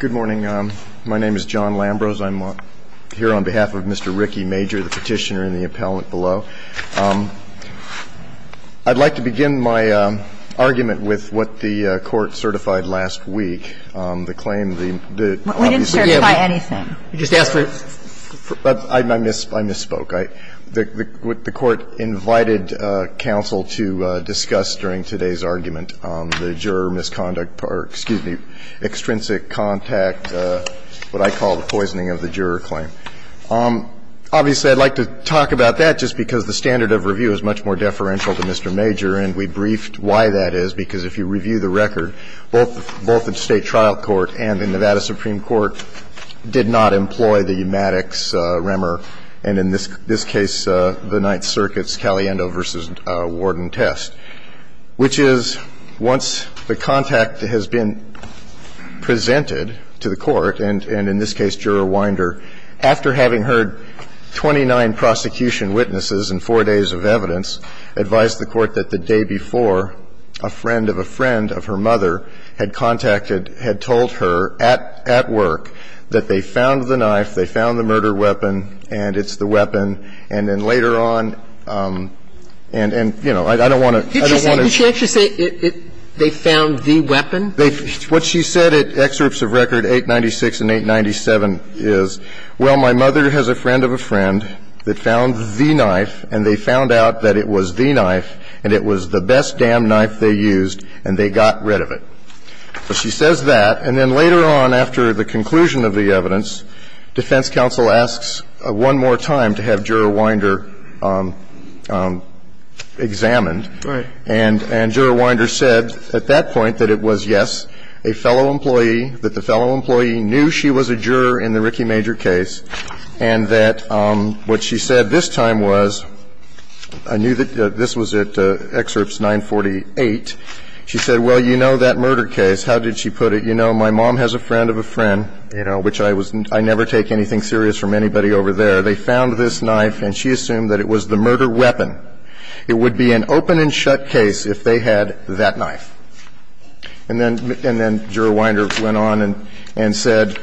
Good morning. My name is John Lambrose. I'm here on behalf of Mr. Ricky Major, the petitioner in the appellant below. I'd like to begin my argument with what the Court certified last week, the claim that obviously we have We didn't certify anything. You just asked for it. I misspoke. The Court invited counsel to discuss during today's argument the juror misconduct or, excuse me, extrinsic contact, what I call the poisoning of the juror claim. Obviously, I'd like to talk about that just because the standard of review is much more deferential to Mr. Major, and we briefed why that is, because if you review the record, both the State Trial Court and the Nevada Supreme Court did not employ the Umatics remor, and in this case, the Ninth Circuit's Caliendo v. Warden test, which is once the contact has been presented to the Court, and in this case, Juror Winder, after having heard 29 prosecution witnesses in 4 days of evidence, advised the Court that the day before, a friend of a friend of her mother had contacted, had told her at work that they found the knife, they found the murder weapon, and it's the weapon. And then later on, and, you know, I don't want to – Did she actually say they found the weapon? What she said at excerpts of record 896 and 897 is, well, my mother has a friend of a friend that found the knife, and they found out that it was the knife, and it was the best damn knife they used, and they got rid of it. So she says that, and then later on, after the conclusion of the evidence, defense counsel asks one more time to have Juror Winder examined. Right. And Juror Winder said at that point that it was, yes, a fellow employee, that the fellow employee knew she was a juror in the Rickey-Major case, and that what she said this time was, I knew that this was at excerpts 948, she said, well, you know that murder case, how did she put it? You know, my mom has a friend of a friend, you know, which I was – I never take anything serious from anybody over there. They found this knife, and she assumed that it was the murder weapon. It would be an open and shut case if they had that knife. And then – and then Juror Winder went on and said,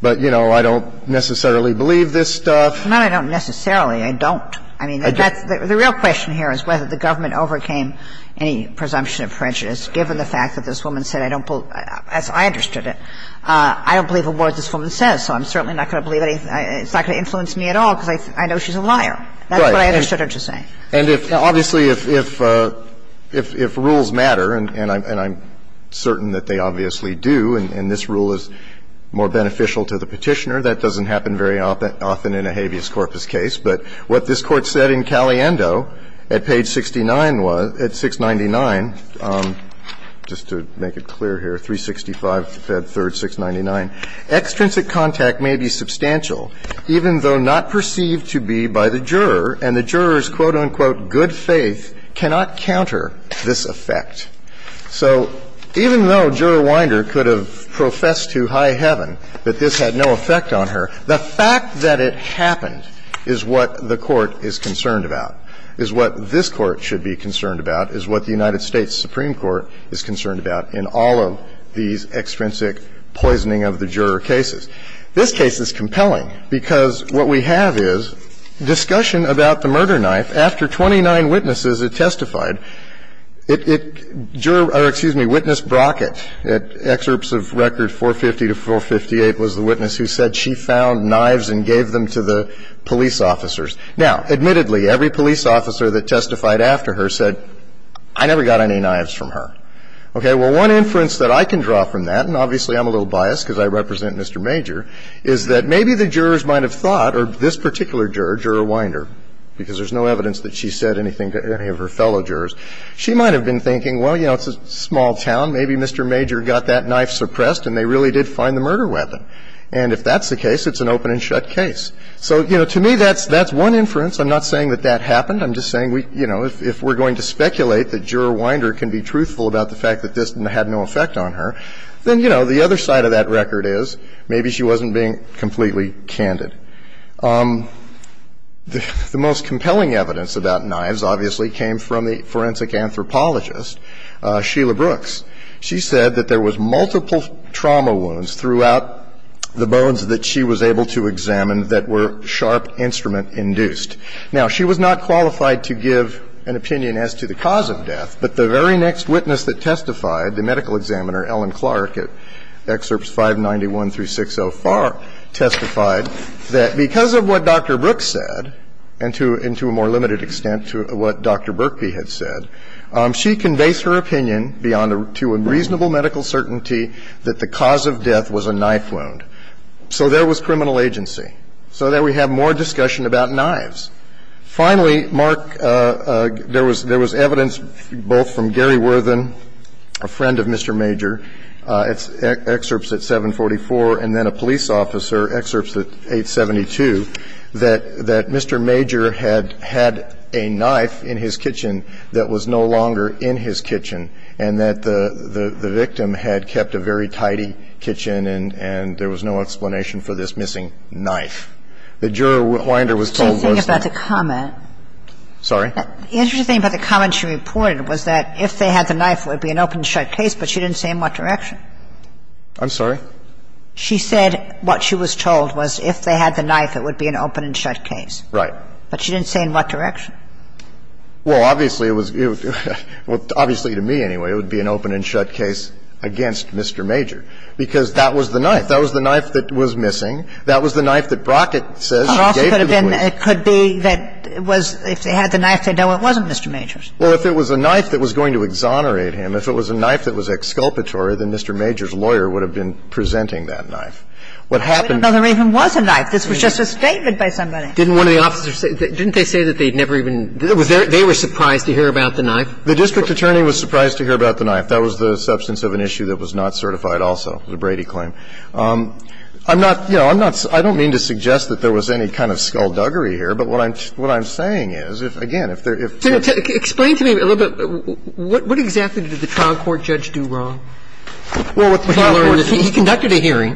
but, you know, I don't necessarily believe this stuff. No, I don't necessarily. I don't. I mean, that's – the real question here is whether the government overcame any presumption of prejudice, given the fact that this woman said, I don't believe – as I understood it, I don't believe a word this woman says, so I'm certainly not going to believe anything – it's not going to influence me at all, because I know she's a liar. That's what I understood her to say. And if – obviously, if – if rules matter, and I'm certain that they obviously do, and this rule is more beneficial to the Petitioner, that doesn't happen very often in a habeas corpus case. But what this Court said in Caliendo, at page 69 was – at 699, just to make it clear here, 365, Fed 3rd, 699, Extrinsic contact may be substantial, even though not perceived to be by the juror, and the juror's, quote, unquote, good faith cannot counter this effect. So even though Juror Winder could have professed to high heaven that this had no effect on her, the fact that it happened is what the Court is concerned about, is what this Court should be concerned about, is what the United States Supreme Court is concerned about in all of these extrinsic poisoning of the juror cases. This case is compelling because what we have is discussion about the murder knife after 29 witnesses have testified. It – juror – or, excuse me, witness Brockett, at excerpts of record 450 to 458 was the witness who said she found knives and gave them to the police officers. Now, admittedly, every police officer that testified after her said, I never got any knives from her. Okay, well, one inference that I can draw from that, and obviously I'm a little biased because I represent Mr. Major, is that maybe the jurors might have thought, or this particular juror, Juror Winder, because there's no evidence that she said anything to any of her fellow jurors, she might have been thinking, well, you know, it's a small town, maybe Mr. Major got that knife suppressed and they really did find the murder weapon. And if that's the case, it's an open and shut case. So, you know, to me, that's one inference. I'm not saying that that happened. I'm just saying, you know, if we're going to speculate that Juror Winder can be truthful about the fact that this had no effect on her, then, you know, the other side of that record is maybe she wasn't being completely candid. The most compelling evidence about knives, obviously, came from the forensic anthropologist, Sheila Brooks. She said that there was multiple trauma wounds throughout the bones that she was able to examine that were sharp instrument-induced. Now, she was not qualified to give an opinion as to the cause of death, but the very next witness that testified, the medical examiner, Ellen Clark, at Excerpts 591 through 604, testified that because of what Dr. Brooks said, and to a more limited extent to what Dr. Burkby had said, she conveys her opinion beyond to a reasonable medical certainty that the cause of death was a knife wound. So there was criminal agency. So there we have more discussion about knives. Finally, Mark, there was evidence both from Gary Worthen, a friend of Mr. Major. It's Excerpts at 744, and then a police officer, Excerpts at 872, that Mr. Major had had a knife in his kitchen that was no longer in his kitchen, and that the victim had kept a very tidy kitchen, and there was no explanation for this missing knife. The juror, Winder, was told was that the --- The interesting thing about the comment she reported was that if they had the knife, it would be an open-and-shut case, but she didn't say in what direction. I'm sorry? She said what she was told was if they had the knife, it would be an open-and-shut case. Right. But she didn't say in what direction. Well, obviously, it was -- obviously, to me, anyway, it would be an open-and-shut case against Mr. Major, because that was the knife. That was the knife that was missing. That was the knife that Brockett says she gave to the police. It could be that it was -- if they had the knife, they know it wasn't Mr. Major's. Well, if it was a knife that was going to exonerate him, if it was a knife that was exculpatory, then Mr. Major's lawyer would have been presenting that knife. What happened -- But there even was a knife. This was just a statement by somebody. Didn't one of the officers say they'd never even -- they were surprised to hear about the knife? The district attorney was surprised to hear about the knife. That was the substance of an issue that was not certified also, the Brady claim. I'm not, you know, I'm not -- I don't mean to suggest that there was any kind of skullduggery here, but what I'm saying is, again, if there -- So explain to me a little bit, what exactly did the trial court judge do wrong? Well, what the trial court judge did- He conducted a hearing,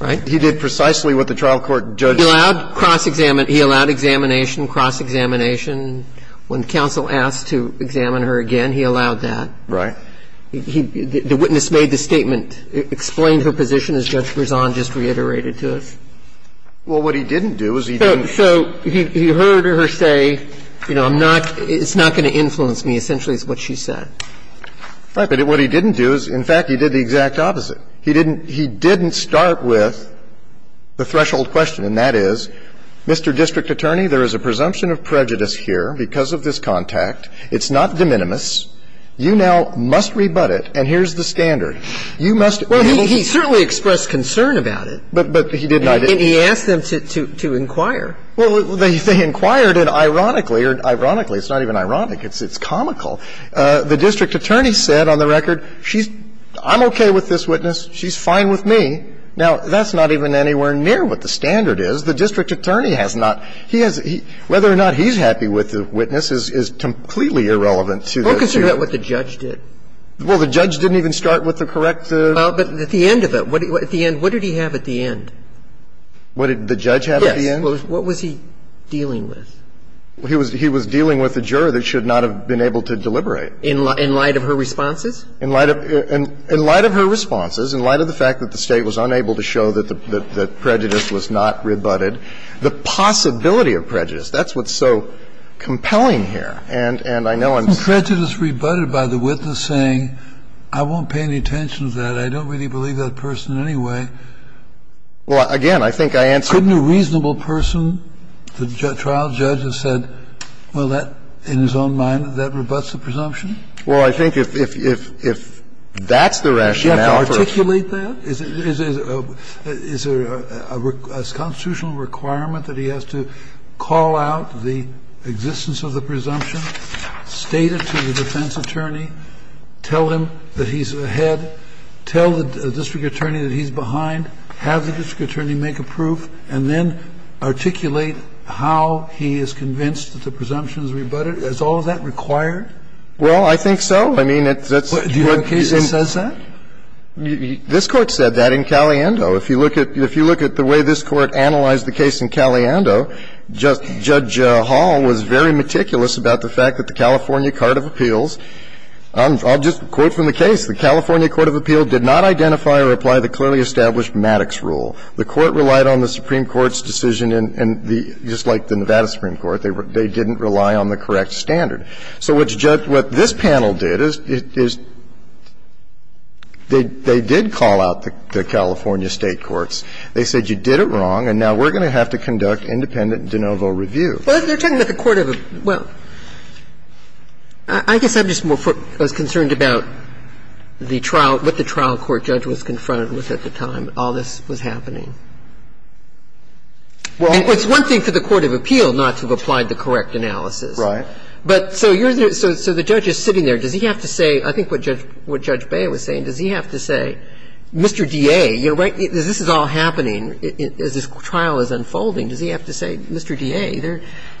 right? He did precisely what the trial court judge- He allowed cross-examination. He allowed examination, cross-examination. When counsel asked to examine her again, he allowed that. Right. The witness made the statement, explained her position, as Judge Berzon just reiterated to us. Well, what he didn't do is he didn't- So he heard her say, you know, I'm not -- it's not going to influence me, essentially, is what she said. Right. But what he didn't do is, in fact, he did the exact opposite. He didn't start with the threshold question, and that is, Mr. District Attorney, there is a presumption of prejudice here because of this contact. It's not de minimis. You now must rebut it, and here's the standard. Well, he certainly expressed concern about it. But he did not- He asked them to inquire. Well, they inquired, and ironically, or ironically, it's not even ironic. It's comical. The District Attorney said on the record, she's -- I'm okay with this witness. She's fine with me. Now, that's not even anywhere near what the standard is. The District Attorney has not -- he has -- whether or not he's happy with the witness is completely irrelevant to the- Well, consider what the judge did. Well, the judge didn't even start with the correct- Well, but at the end of it, at the end, what did he have at the end? What did the judge have at the end? Yes. What was he dealing with? He was dealing with a juror that should not have been able to deliberate. In light of her responses? In light of her responses, in light of the fact that the State was unable to show that prejudice was not rebutted, the possibility of prejudice, that's what's so compelling here, and I know I'm- Prejudice rebutted by the witness saying, I won't pay any attention to that. I don't really believe that person anyway. Well, again, I think I answered- Couldn't a reasonable person, the trial judge, have said, well, that, in his own mind, that rebuts the presumption? Well, I think if that's the rationale for- Does he have to articulate that? Is there a constitutional requirement that he has to call out the existence of the presumption, state it to the defense attorney, tell him that he's ahead, tell the district attorney that he's behind, have the district attorney make a proof, and then articulate how he is convinced that the presumption is rebutted? Is all of that required? Well, I think so. I mean, that's- Do you have a case that says that? This Court said that in Caliendo. If you look at the way this Court analyzed the case in Caliendo, Judge Hall was very clear that the court of appeal did not identify or apply the clearly established Maddox rule. The Court relied on the Supreme Court's decision, and just like the Nevada Supreme Court, they didn't rely on the correct standard. So what this panel did is they did call out the California state courts. They said, you did it wrong, and now we're going to have to conduct independent de novo review. And they said, you did it wrong, and now we're going to have to conduct independent de novo review. Well, they're telling that the court of the – well, I guess I'm just more concerned about the trial, what the trial court judge was confronted with at the time, all this was happening. Well, it's one thing for the court of appeal not to have applied the correct analysis. Right. But so you're – so the judge is sitting there. Does he have to say – I think what Judge – what Judge Beyer was saying, does he have to say, Mr. DA, you're right, this is all happening as this trial is unfolding. Does he have to say, Mr. DA,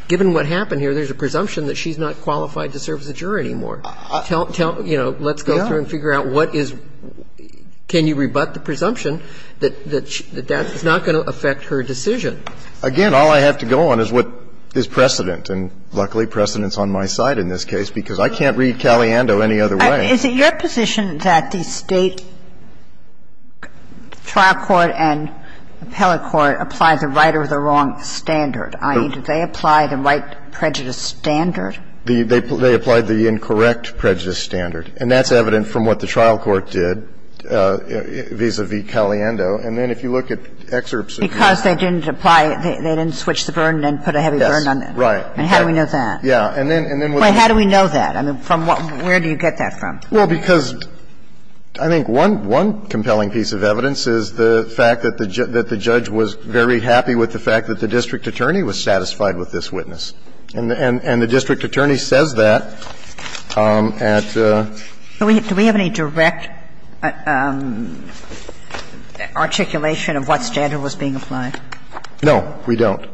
given what happened here, there's a presumption that she's not qualified to serve as a juror anymore. Tell – you know, let's go through and figure out what is – can you rebut the presumption that that's not going to affect her decision? And so, again, all I have to go on is what is precedent. And luckily, precedent's on my side in this case, because I can't read Caliendo any other way. Is it your position that the State trial court and appellate court applied the right or the wrong standard? I mean, did they apply the right prejudice standard? The – they applied the incorrect prejudice standard. And that's evident from what the trial court did vis-à-vis Caliendo. And then if you look at excerpts of the trial court. And that's a very compelling piece of evidence. And that's because they didn't apply – they didn't switch the burden and put a heavy burden on the – Yes. Right. And how do we know that? Yeah. And then – and then we'll see. But how do we know that? I mean, from what – where do you get that from? Well, because I think one – one compelling piece of evidence is the fact that the judge was very happy with the fact that the district attorney was satisfied with this witness. And the district attorney says that at the – Do we have any direct articulation of what standard was being applied? No, we don't.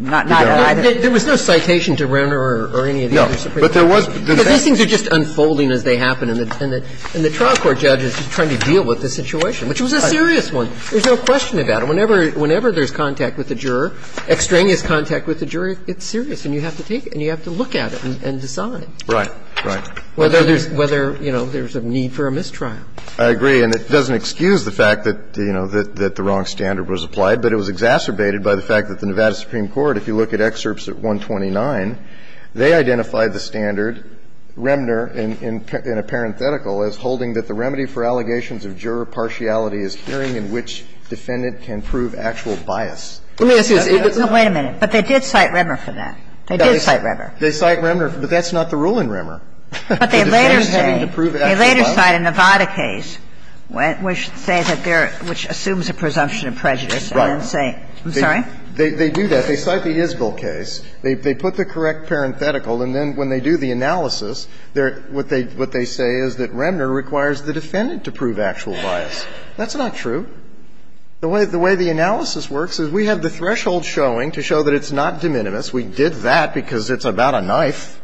Not at either? There was no citation to Renner or any of the other Supreme Court judges. No. But there was – Because these things are just unfolding as they happen. And the trial court judge is just trying to deal with the situation, which was a serious one. There's no question about it. Whenever – whenever there's contact with a juror, extraneous contact with a juror, it's serious. And you have to take it and you have to look at it and decide. Right. Right. Whether there's – whether, you know, there's a need for a mistrial. I agree. And it doesn't excuse the fact that, you know, that the wrong standard was applied. But it was exacerbated by the fact that the Nevada Supreme Court, if you look at excerpts at 129, they identified the standard, Renner in a parenthetical, as holding that the remedy for allegations of juror partiality is hearing in which defendant can prove actual bias. Let me ask you this. No, wait a minute. But they did cite Renner for that. They did cite Renner. They cite Renner, but that's not the rule in Renner. But they later say they later cite a Nevada case which says that there – which assumes a presumption of prejudice and then say – I'm sorry? They do that. They cite the Isgall case. They put the correct parenthetical, and then when they do the analysis, what they say is that Renner requires the defendant to prove actual bias. That's not true. The way the analysis works is we have the threshold showing to show that it's not de minimis. We did that because it's about a knife.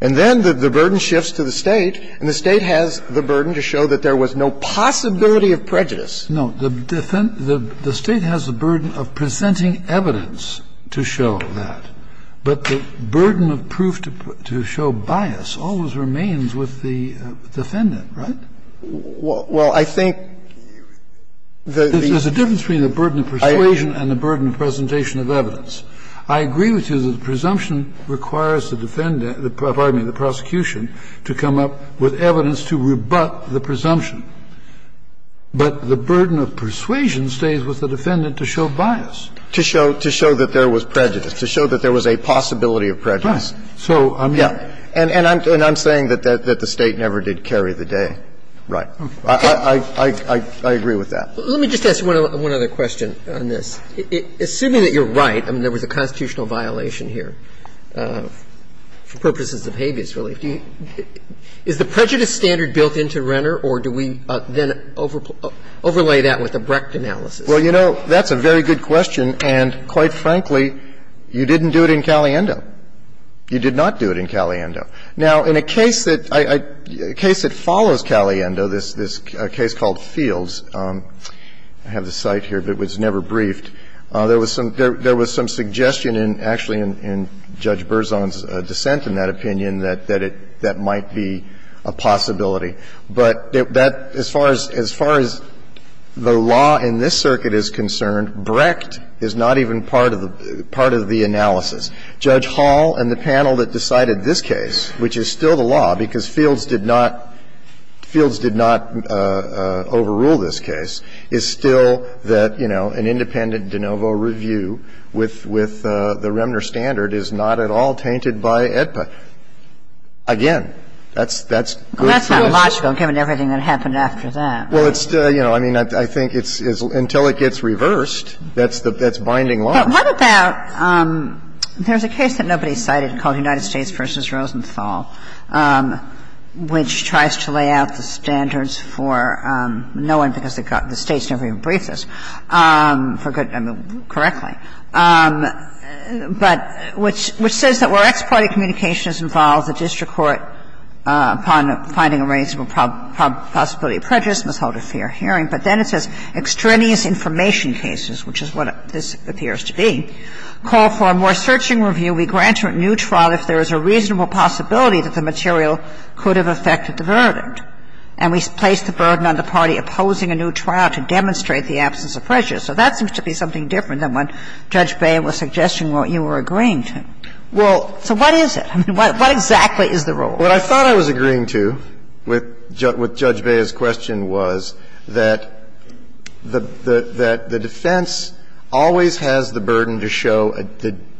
And then the burden shifts to the State, and the State has the burden to show that there was no possibility of prejudice. No. The State has the burden of presenting evidence to show that. But the burden of proof to show bias always remains with the defendant, right? Well, I think the – There's a difference between the burden of persuasion and the burden of presentation of evidence. I agree with you that the presumption requires the defendant – pardon me, the prosecution to come up with evidence to rebut the presumption. But the burden of persuasion stays with the defendant to show bias. To show that there was prejudice, to show that there was a possibility of prejudice. Right. So I'm – Yeah. And I'm saying that the State never did carry the day. Right. I agree with that. Let me just ask one other question on this. Assuming that you're right, I mean, there was a constitutional violation here for purposes of habeas relief. Is the prejudice standard built into Renner, or do we then overlay that with the Brecht analysis? Well, you know, that's a very good question, and quite frankly, you didn't do it in Caliendo. You did not do it in Caliendo. Now, in a case that I – a case that follows Caliendo, this case called Fields – I have the site here, but it was never briefed – there was some suggestion in – actually in Judge Berzon's dissent in that opinion that that might be a possibility. But that – as far as – as far as the law in this circuit is concerned, Brecht is not even part of the – part of the analysis. Judge Hall and the panel that decided this case, which is still the law because Fields did not – Fields did not overrule this case, is still that, you know, an independent de novo review with the Renner standard is not at all tainted by AEDPA. Again, that's good for us. But it's not at all logical, given everything that happened after that, right? Well, it's – you know, I mean, I think it's – until it gets reversed, that's the – that's binding logic. What about – there's a case that nobody cited called United States v. Rosenthal, which tries to lay out the standards for no one because the States never even briefed this for good – I mean, correctly. But which – which says that where ex parte communication is involved, the district court, upon finding a reasonable possibility of prejudice, must hold a fair hearing. But then it says extraneous information cases, which is what this appears to be, call for a more searching review. We grant a new trial if there is a reasonable possibility that the material could have affected the verdict. And we place the burden on the party opposing a new trial to demonstrate the absence of prejudice. So that seems to be something different than what Judge Beyer was suggesting when you were agreeing to. Well – So what is it? I mean, what exactly is the role? What I thought I was agreeing to with Judge Beyer's question was that the defense always has the burden to show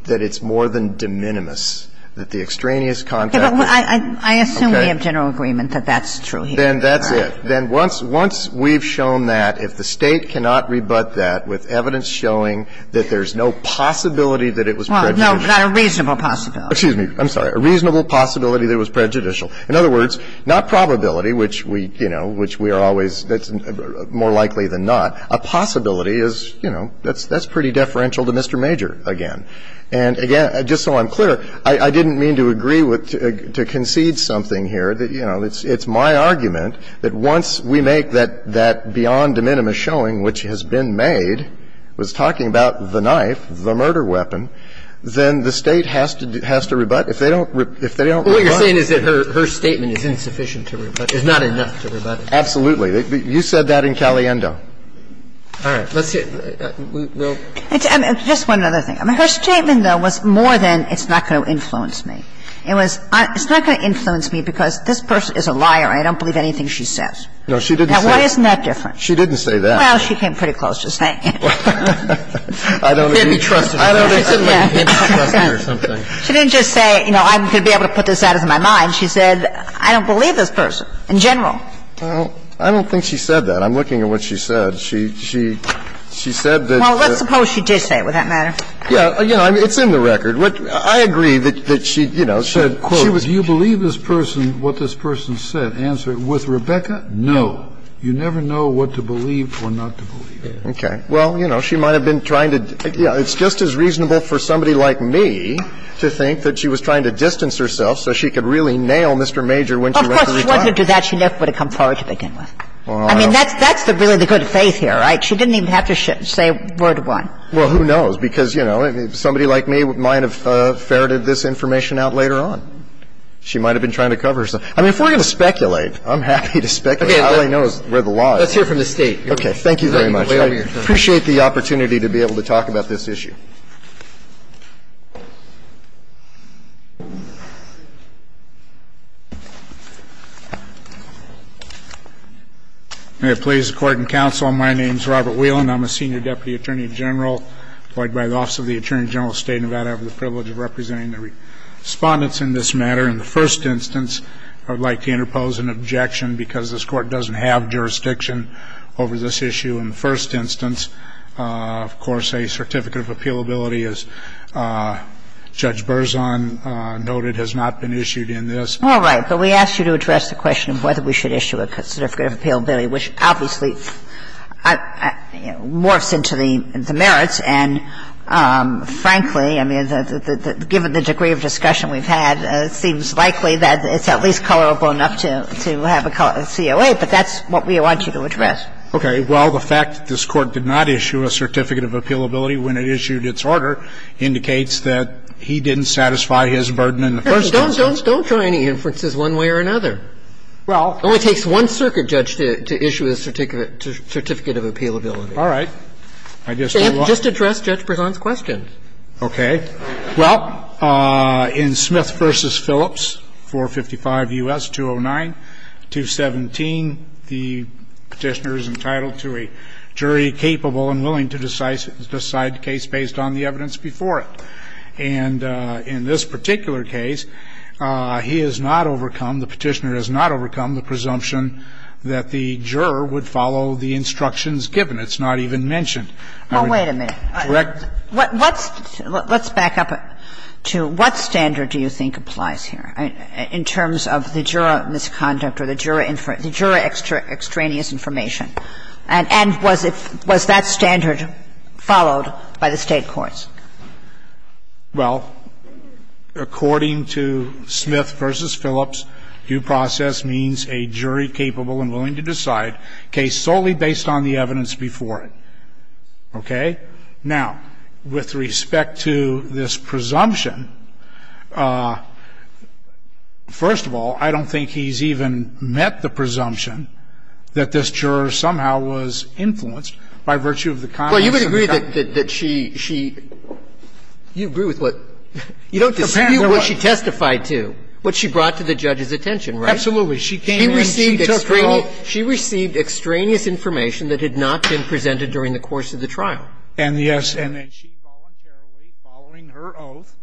that it's more than de minimis, that the extraneous contact – I assume we have general agreement that that's true here. Then that's it. Then once – once we've shown that, if the State cannot rebut that with evidence showing that there's no possibility that it was prejudicial – Well, no, not a reasonable possibility. Excuse me. I'm sorry. A reasonable possibility that it was prejudicial. In other words, not probability, which we – you know, which we are always – that's more likely than not. A possibility is – you know, that's pretty deferential to Mr. Major again. And again, just so I'm clear, I didn't mean to agree with – to concede something here, that, you know, it's my argument that once we make that beyond de minimis showing, which has been made, was talking about the knife, the murder weapon, then the State has to rebut. If they don't – if they don't rebut. All you're saying is that her statement is insufficient to rebut, is not enough to rebut. Absolutely. You said that in Caliendo. All right. Let's see. We'll – Just one other thing. I mean, her statement, though, was more than it's not going to influence me. It was – it's not going to influence me because this person is a liar and I don't believe anything she says. No, she didn't say that. Now, what is that different? She didn't say that. Well, she came pretty close to saying it. I don't think she said that. Maybe trust me or something. She didn't just say, you know, I'm going to be able to put this out of my mind. She said, I don't believe this person in general. Well, I don't think she said that. I'm looking at what she said. She – she said that the – Well, let's suppose she did say it. Would that matter? Yeah. You know, it's in the record. What – I agree that – that she, you know, said – She was – do you believe this person – what this person said? Answer it. With Rebecca, no. You never know what to believe or not to believe. Okay. Well, you know, she might have been trying to – yeah, it's just as reasonable for somebody like me to think that she was trying to distance herself so she could really nail Mr. Major when she went to retire. Of course, she wasn't going to do that. She never would have come forward to begin with. I mean, that's – that's really the good faith here, right? She didn't even have to say word one. Well, who knows? Because, you know, somebody like me might have ferreted this information out later on. She might have been trying to cover herself. I mean, if we're going to speculate, I'm happy to speculate. I don't really know where the law is. Let's hear from the State. Okay. Thank you very much. I appreciate the opportunity to be able to talk about this issue. May it please the Court and counsel, my name is Robert Whelan. I'm a senior deputy attorney general employed by the Office of the Attorney General of the State of Nevada. I have the privilege of representing the Respondents in this matter. In the first instance, I would like to interpose an objection because this Court doesn't have jurisdiction over this issue in the first instance. Of course, a certificate of appealability, as Judge Berzon noted, has not been issued in this. All right. But we asked you to address the question of whether we should issue a certificate of appealability, which obviously morphs into the merits. And frankly, I mean, given the degree of discussion we've had, it seems likely that it's at least colorable enough to have a COA, but that's what we want you to address. Okay. Well, the fact that this Court did not issue a certificate of appealability when it issued its order indicates that he didn't satisfy his burden in the first instance. Don't draw any inferences one way or another. It only takes one circuit judge to issue a certificate of appealability. All right. I just don't want to ---- Just address Judge Berzon's question. Okay. Well, in Smith v. Phillips, 455 U.S. 209, 217, the Petitioner is entitled to a jury capable and willing to decide the case based on the evidence before it. And in this particular case, he has not overcome, the Petitioner has not overcome the presumption that the juror would follow the instructions given. It's not even mentioned. I mean, correct? Well, wait a minute. Let's back up to what standard do you think applies here in terms of the juror misconduct or the juror extraneous information? And was that standard followed by the State courts? Well, according to Smith v. Phillips, due process means a jury capable and willing to decide a case solely based on the evidence before it. Okay? Now, with respect to this presumption, first of all, I don't think he's even met the presumption that this juror somehow was influenced by virtue of the comments of the comments made by the Petitioner. Well, you would agree that she, she, you agree with what, you don't disagree with what she testified to, what she brought to the judge's attention, right? Absolutely. She came in, she took it all. She received extraneous information that had not been presented during the course of the trial. And yes, and then she voluntarily, following her oath,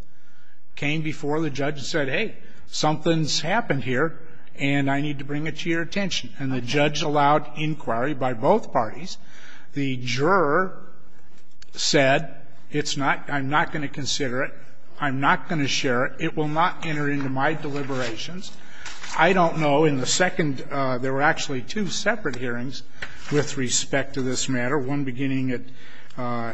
came before the judge and said, hey, something's happened here, and I need to bring it to your attention. And the judge allowed inquiry by both parties. The juror said, it's not, I'm not going to consider it. I'm not going to share it. It will not enter into my deliberations. I don't know, in the second, there were actually two separate hearings with respect to this matter, one beginning at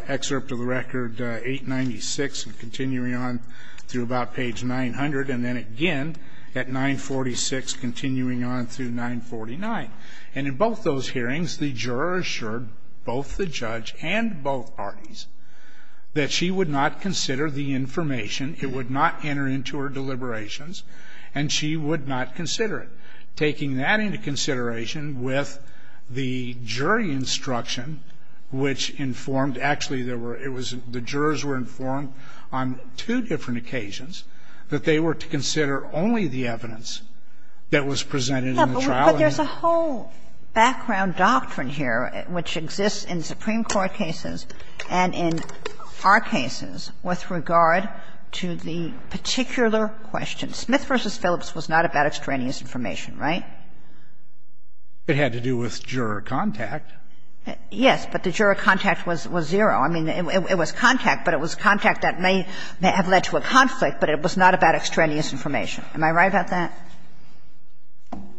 excerpt of the record 896 and continuing on through about page 900, and then again at 946, continuing on through 949. And in both those hearings, the juror assured both the judge and both parties that she would not consider the information, it would not enter into her deliberations, and she would not consider it. And then there was a second hearing with the jury instruction, which informed actually there were, it was, the jurors were informed on two different occasions that they were to consider only the evidence that was presented in the trial. Kagan. And there's a whole background doctrine here which exists in Supreme Court cases and in our cases with regard to the particular question. Smith v. Phillips was not about extraneous information, right? It had to do with juror contact. Yes, but the juror contact was zero. I mean, it was contact, but it was contact that may have led to a conflict, but it was not about extraneous information. Am I right about that?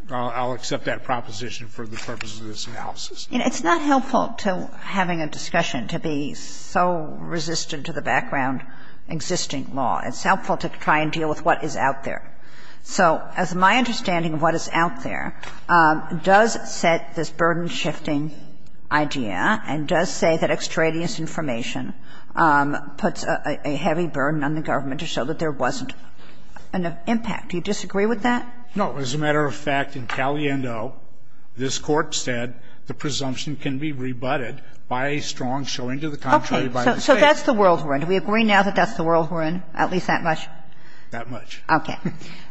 I'll accept that proposition for the purposes of this analysis. It's not helpful to having a discussion to be so resistant to the background existing law. It's helpful to try and deal with what is out there. So as my understanding of what is out there, does set this burden-shifting idea and does say that extraneous information puts a heavy burden on the government to show that there wasn't an impact. Do you disagree with that? No. As a matter of fact, in Caliendo, this Court said the presumption can be rebutted by a strong showing to the contrary by the State. Okay. So that's the world we're in. Do we agree now that that's the world we're in, at least that much? That much. Okay.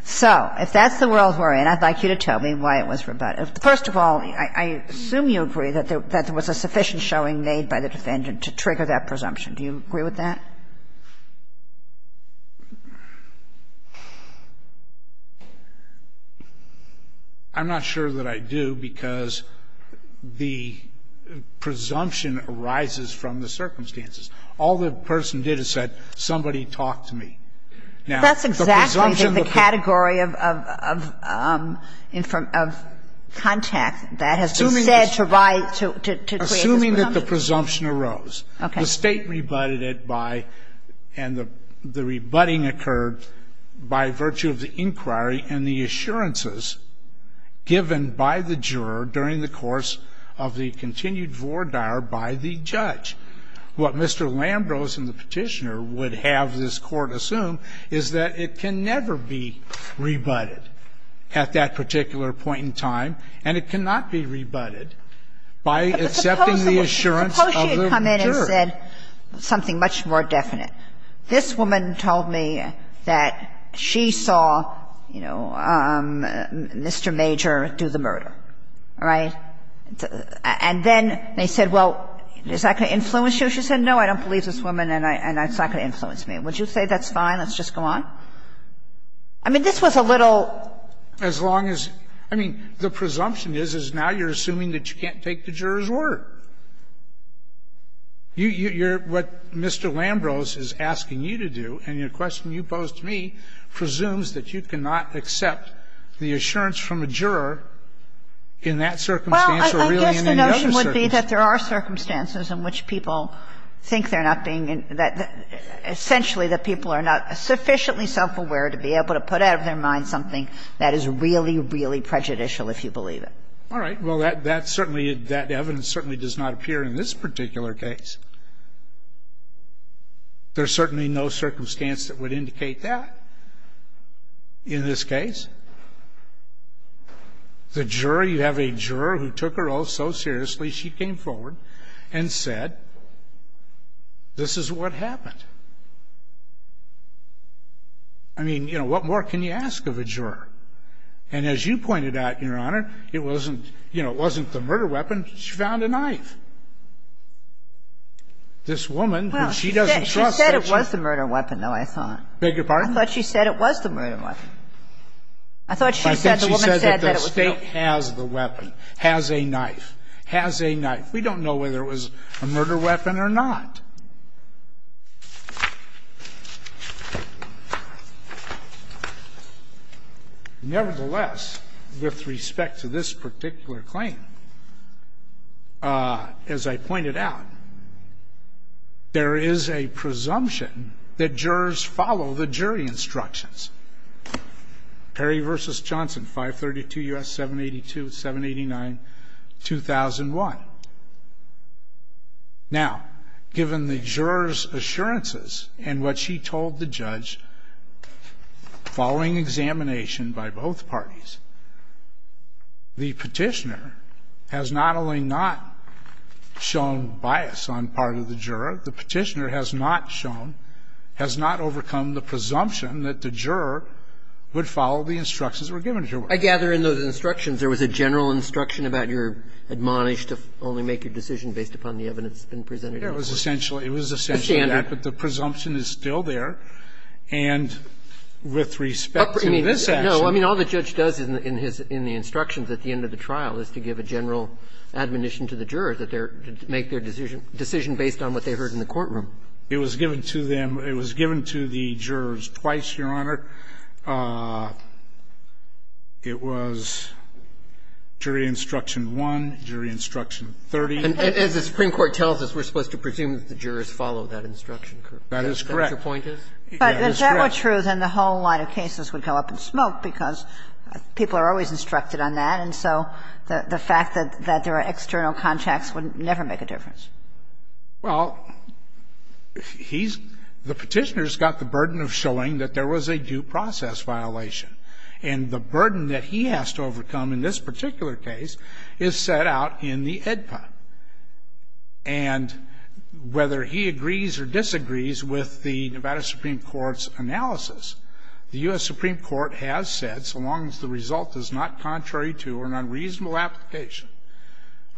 So if that's the world we're in, I'd like you to tell me why it was rebutted. First of all, I assume you agree that there was a sufficient showing made by the defendant to trigger that presumption. Do you agree with that? I'm not sure that I do, because the presumption arises from the circumstances. All the person did is said, somebody talk to me. Now, the presumption of the prisoner. That's exactly the category of contact that has been said to create this presumption. Assuming that the presumption arose. Okay. The State rebutted it by and the rebutting occurred by virtue of the inquiry and the assurances given by the juror during the course of the continued vore dire by the judge. What Mr. Lambrose and the Petitioner would have this Court assume is that it can never be rebutted at that particular point in time, and it cannot be rebutted by accepting the assurance of the juror. But suppose she had come in and said something much more definite. This woman told me that she saw, you know, Mr. Major do the murder, right? And then they said, well, is that going to influence you? She said, no, I don't believe this woman and it's not going to influence me. Would you say that's fine, let's just go on? I mean, this was a little. As long as the presumption is, is now you're assuming that you can't take the juror's word. You're what Mr. Lambrose is asking you to do, and your question you posed to me presumes that there are circumstances in which people think they're not being, that essentially that people are not sufficiently self-aware to be able to put out of their mind something that is really, really prejudicial, if you believe it. All right. Well, that's certainly, that evidence certainly does not appear in this particular case. There's certainly no circumstance that would indicate that in this case. The jury, you have a juror who took her oath so seriously, she came forward and said, this is what happened. I mean, you know, what more can you ask of a juror? And as you pointed out, Your Honor, it wasn't, you know, it wasn't the murder weapon, she found a knife. This woman, who she doesn't trust, said she. Well, she said it was the murder weapon, though, I thought. Beg your pardon? I thought she said it was the murder weapon. I thought she said the woman said that it was the. I think she said that the State has the weapon, has a knife, has a knife. We don't know whether it was a murder weapon or not. Nevertheless, with respect to this particular claim, as I pointed out, there is a presumption that jurors follow the jury instructions. Perry v. Johnson, 532 U.S. 782, 789, 2001. Now, given the juror's assurances and what she told the judge following examination by both parties, the Petitioner has not only not shown bias on part of the juror, the Petitioner has not shown, has not overcome the presumption that the juror would follow the instructions that were given to her. I gather in those instructions there was a general instruction about you're admonished to only make your decision based upon the evidence that's been presented. It was essentially that. It was essentially that, but the presumption is still there. And with respect to this action. No, I mean, all the judge does in his – in the instructions at the end of the trial is to give a general admonition to the juror that they're – to make their decision based on what they heard in the courtroom. It was given to them – it was given to the jurors twice, Your Honor. It was jury instruction one, jury instruction 30. And as the Supreme Court tells us, we're supposed to presume that the jurors follow that instruction, correct? That is correct. That's what your point is? That is correct. But if that were true, then the whole line of cases would go up in smoke because people are always instructed on that. And so the fact that there are external contacts would never make a difference. Well, he's – the petitioner's got the burden of showing that there was a due process violation. And the burden that he has to overcome in this particular case is set out in the AEDPA. And whether he agrees or disagrees with the Nevada Supreme Court's analysis, the U.S. Supreme Court has said, so long as the result is not contrary to or unreasonable application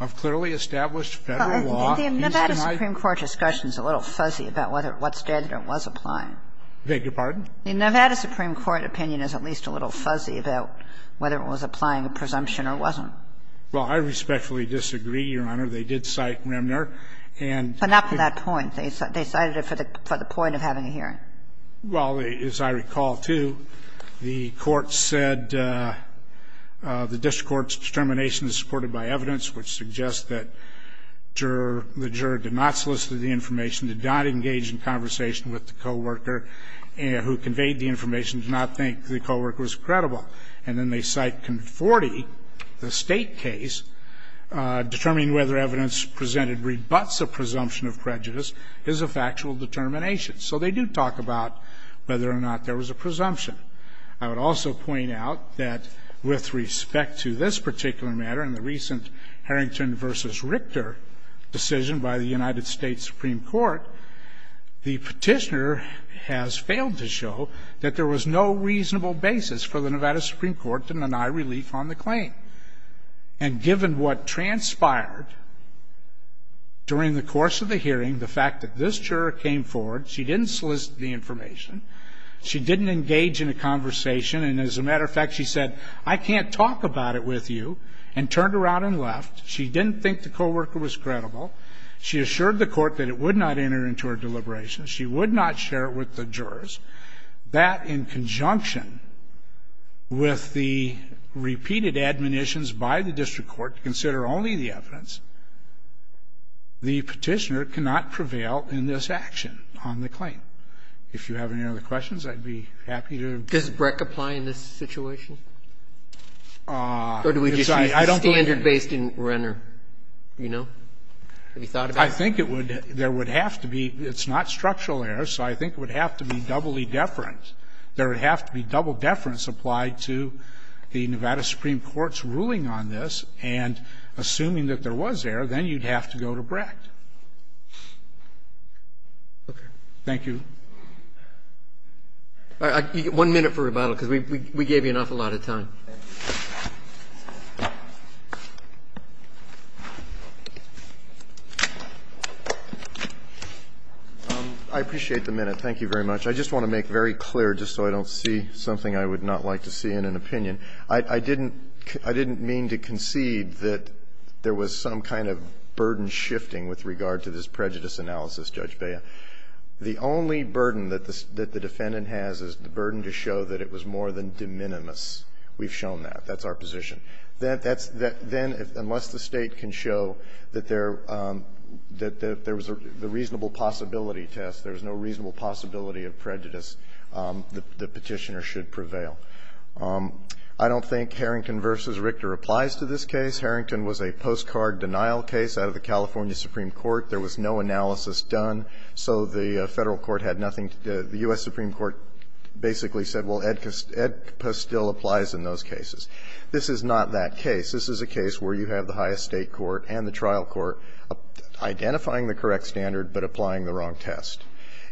of clearly established Federal law, he's denied it. The Nevada Supreme Court discussion is a little fuzzy about whether – what standard it was applying. I beg your pardon? The Nevada Supreme Court opinion is at least a little fuzzy about whether it was applying a presumption or wasn't. Well, I respectfully disagree, Your Honor. They did cite Remner and – But not for that point. They cited it for the point of having a hearing. Well, as I recall, too, the court said the district court's determination is supported by evidence which suggests that the juror did not solicit the information, did not engage in conversation with the coworker, who conveyed the information, did not think the coworker was credible. And then they cite Conforti, the State case, determining whether evidence presented rebuts a presumption of prejudice is a factual determination. So they do talk about whether or not there was a presumption. I would also point out that with respect to this particular matter and the recent Harrington v. Richter decision by the United States Supreme Court, the Petitioner has failed to show that there was no reasonable basis for the Nevada Supreme Court to deny relief on the claim. And given what transpired during the course of the hearing, the fact that this juror came forward, she didn't solicit the information, she didn't engage in a conversation, and as a matter of fact, she said, I can't talk about it with you, and turned around and left, she didn't think the coworker was credible, she assured the court that it would not enter into her deliberation, she would not share it with the jurors, that in conjunction with the repeated admonitions by the district court to consider only the evidence, the Petitioner cannot prevail in this action on the claim. If you have any other questions, I'd be happy to do it. Does BREC apply in this situation? Or do we just use the standard based in Renner, you know? Have you thought about it? I think it would. There would have to be — it's not structural error, so I think it would have to be doubly deferent. There would have to be double deference applied to the Nevada Supreme Court's ruling on this, and assuming that there was error, then you'd have to go to BREC. Thank you. One minute for rebuttal, because we gave you an awful lot of time. I appreciate the minute. Thank you very much. I just want to make very clear, just so I don't see something I would not like to see in an opinion. I didn't mean to concede that there was some kind of burden shifting with regard to this prejudice analysis, Judge Bea. The only burden that the defendant has is the burden to show that it was more than de minimis. We've shown that. That's our position. Then, unless the State can show that there was a reasonable possibility test, there was no reasonable possibility of prejudice, the Petitioner should prevail. I don't think Harrington v. Richter applies to this case. Harrington was a postcard denial case out of the California Supreme Court. There was no analysis done, so the Federal Court had nothing to do. The U.S. Supreme Court basically said, well, Ed Postil applies in those cases. This is not that case. This is a case where you have the highest state court and the trial court identifying the correct standard but applying the wrong test.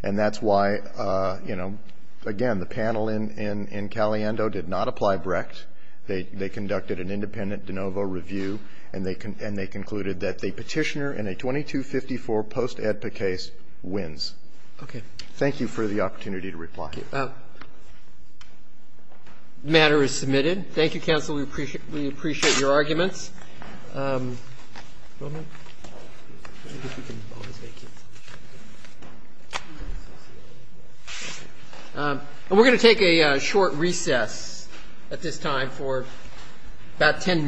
And that's why, you know, again, the panel in Caliendo did not apply Brecht. They conducted an independent de novo review, and they concluded that the Petitioner in a 2254 post-EDPA case wins. Thank you for the opportunity to reply. The matter is submitted. Thank you, counsel. We appreciate your arguments. And we're going to take a short recess at this time for about 10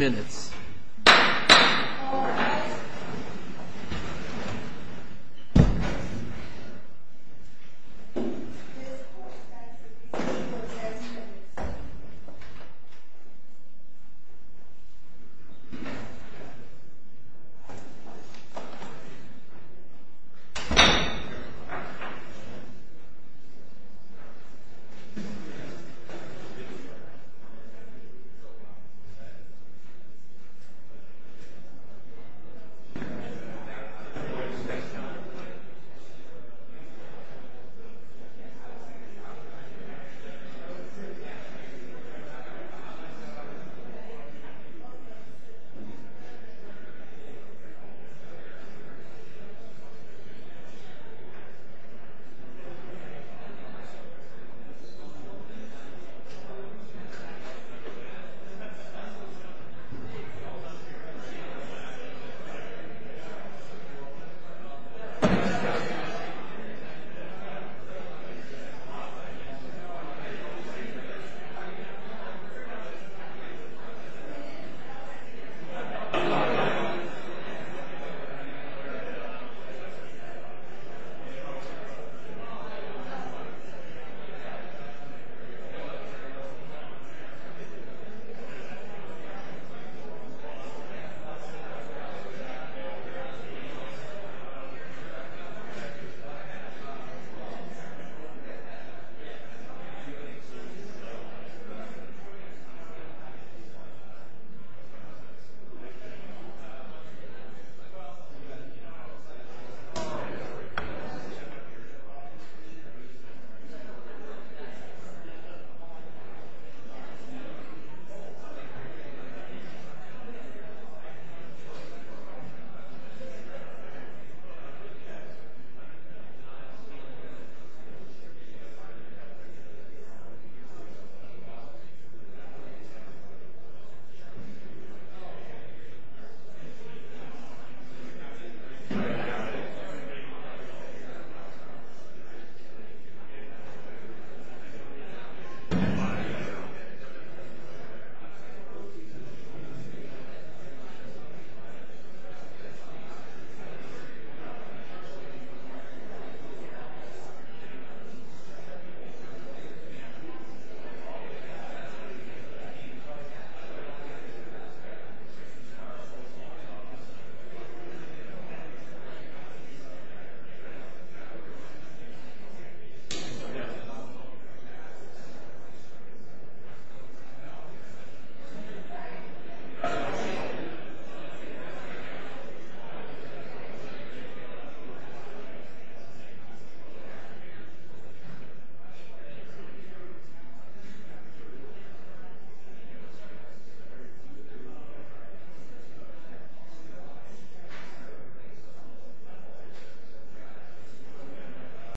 minutes.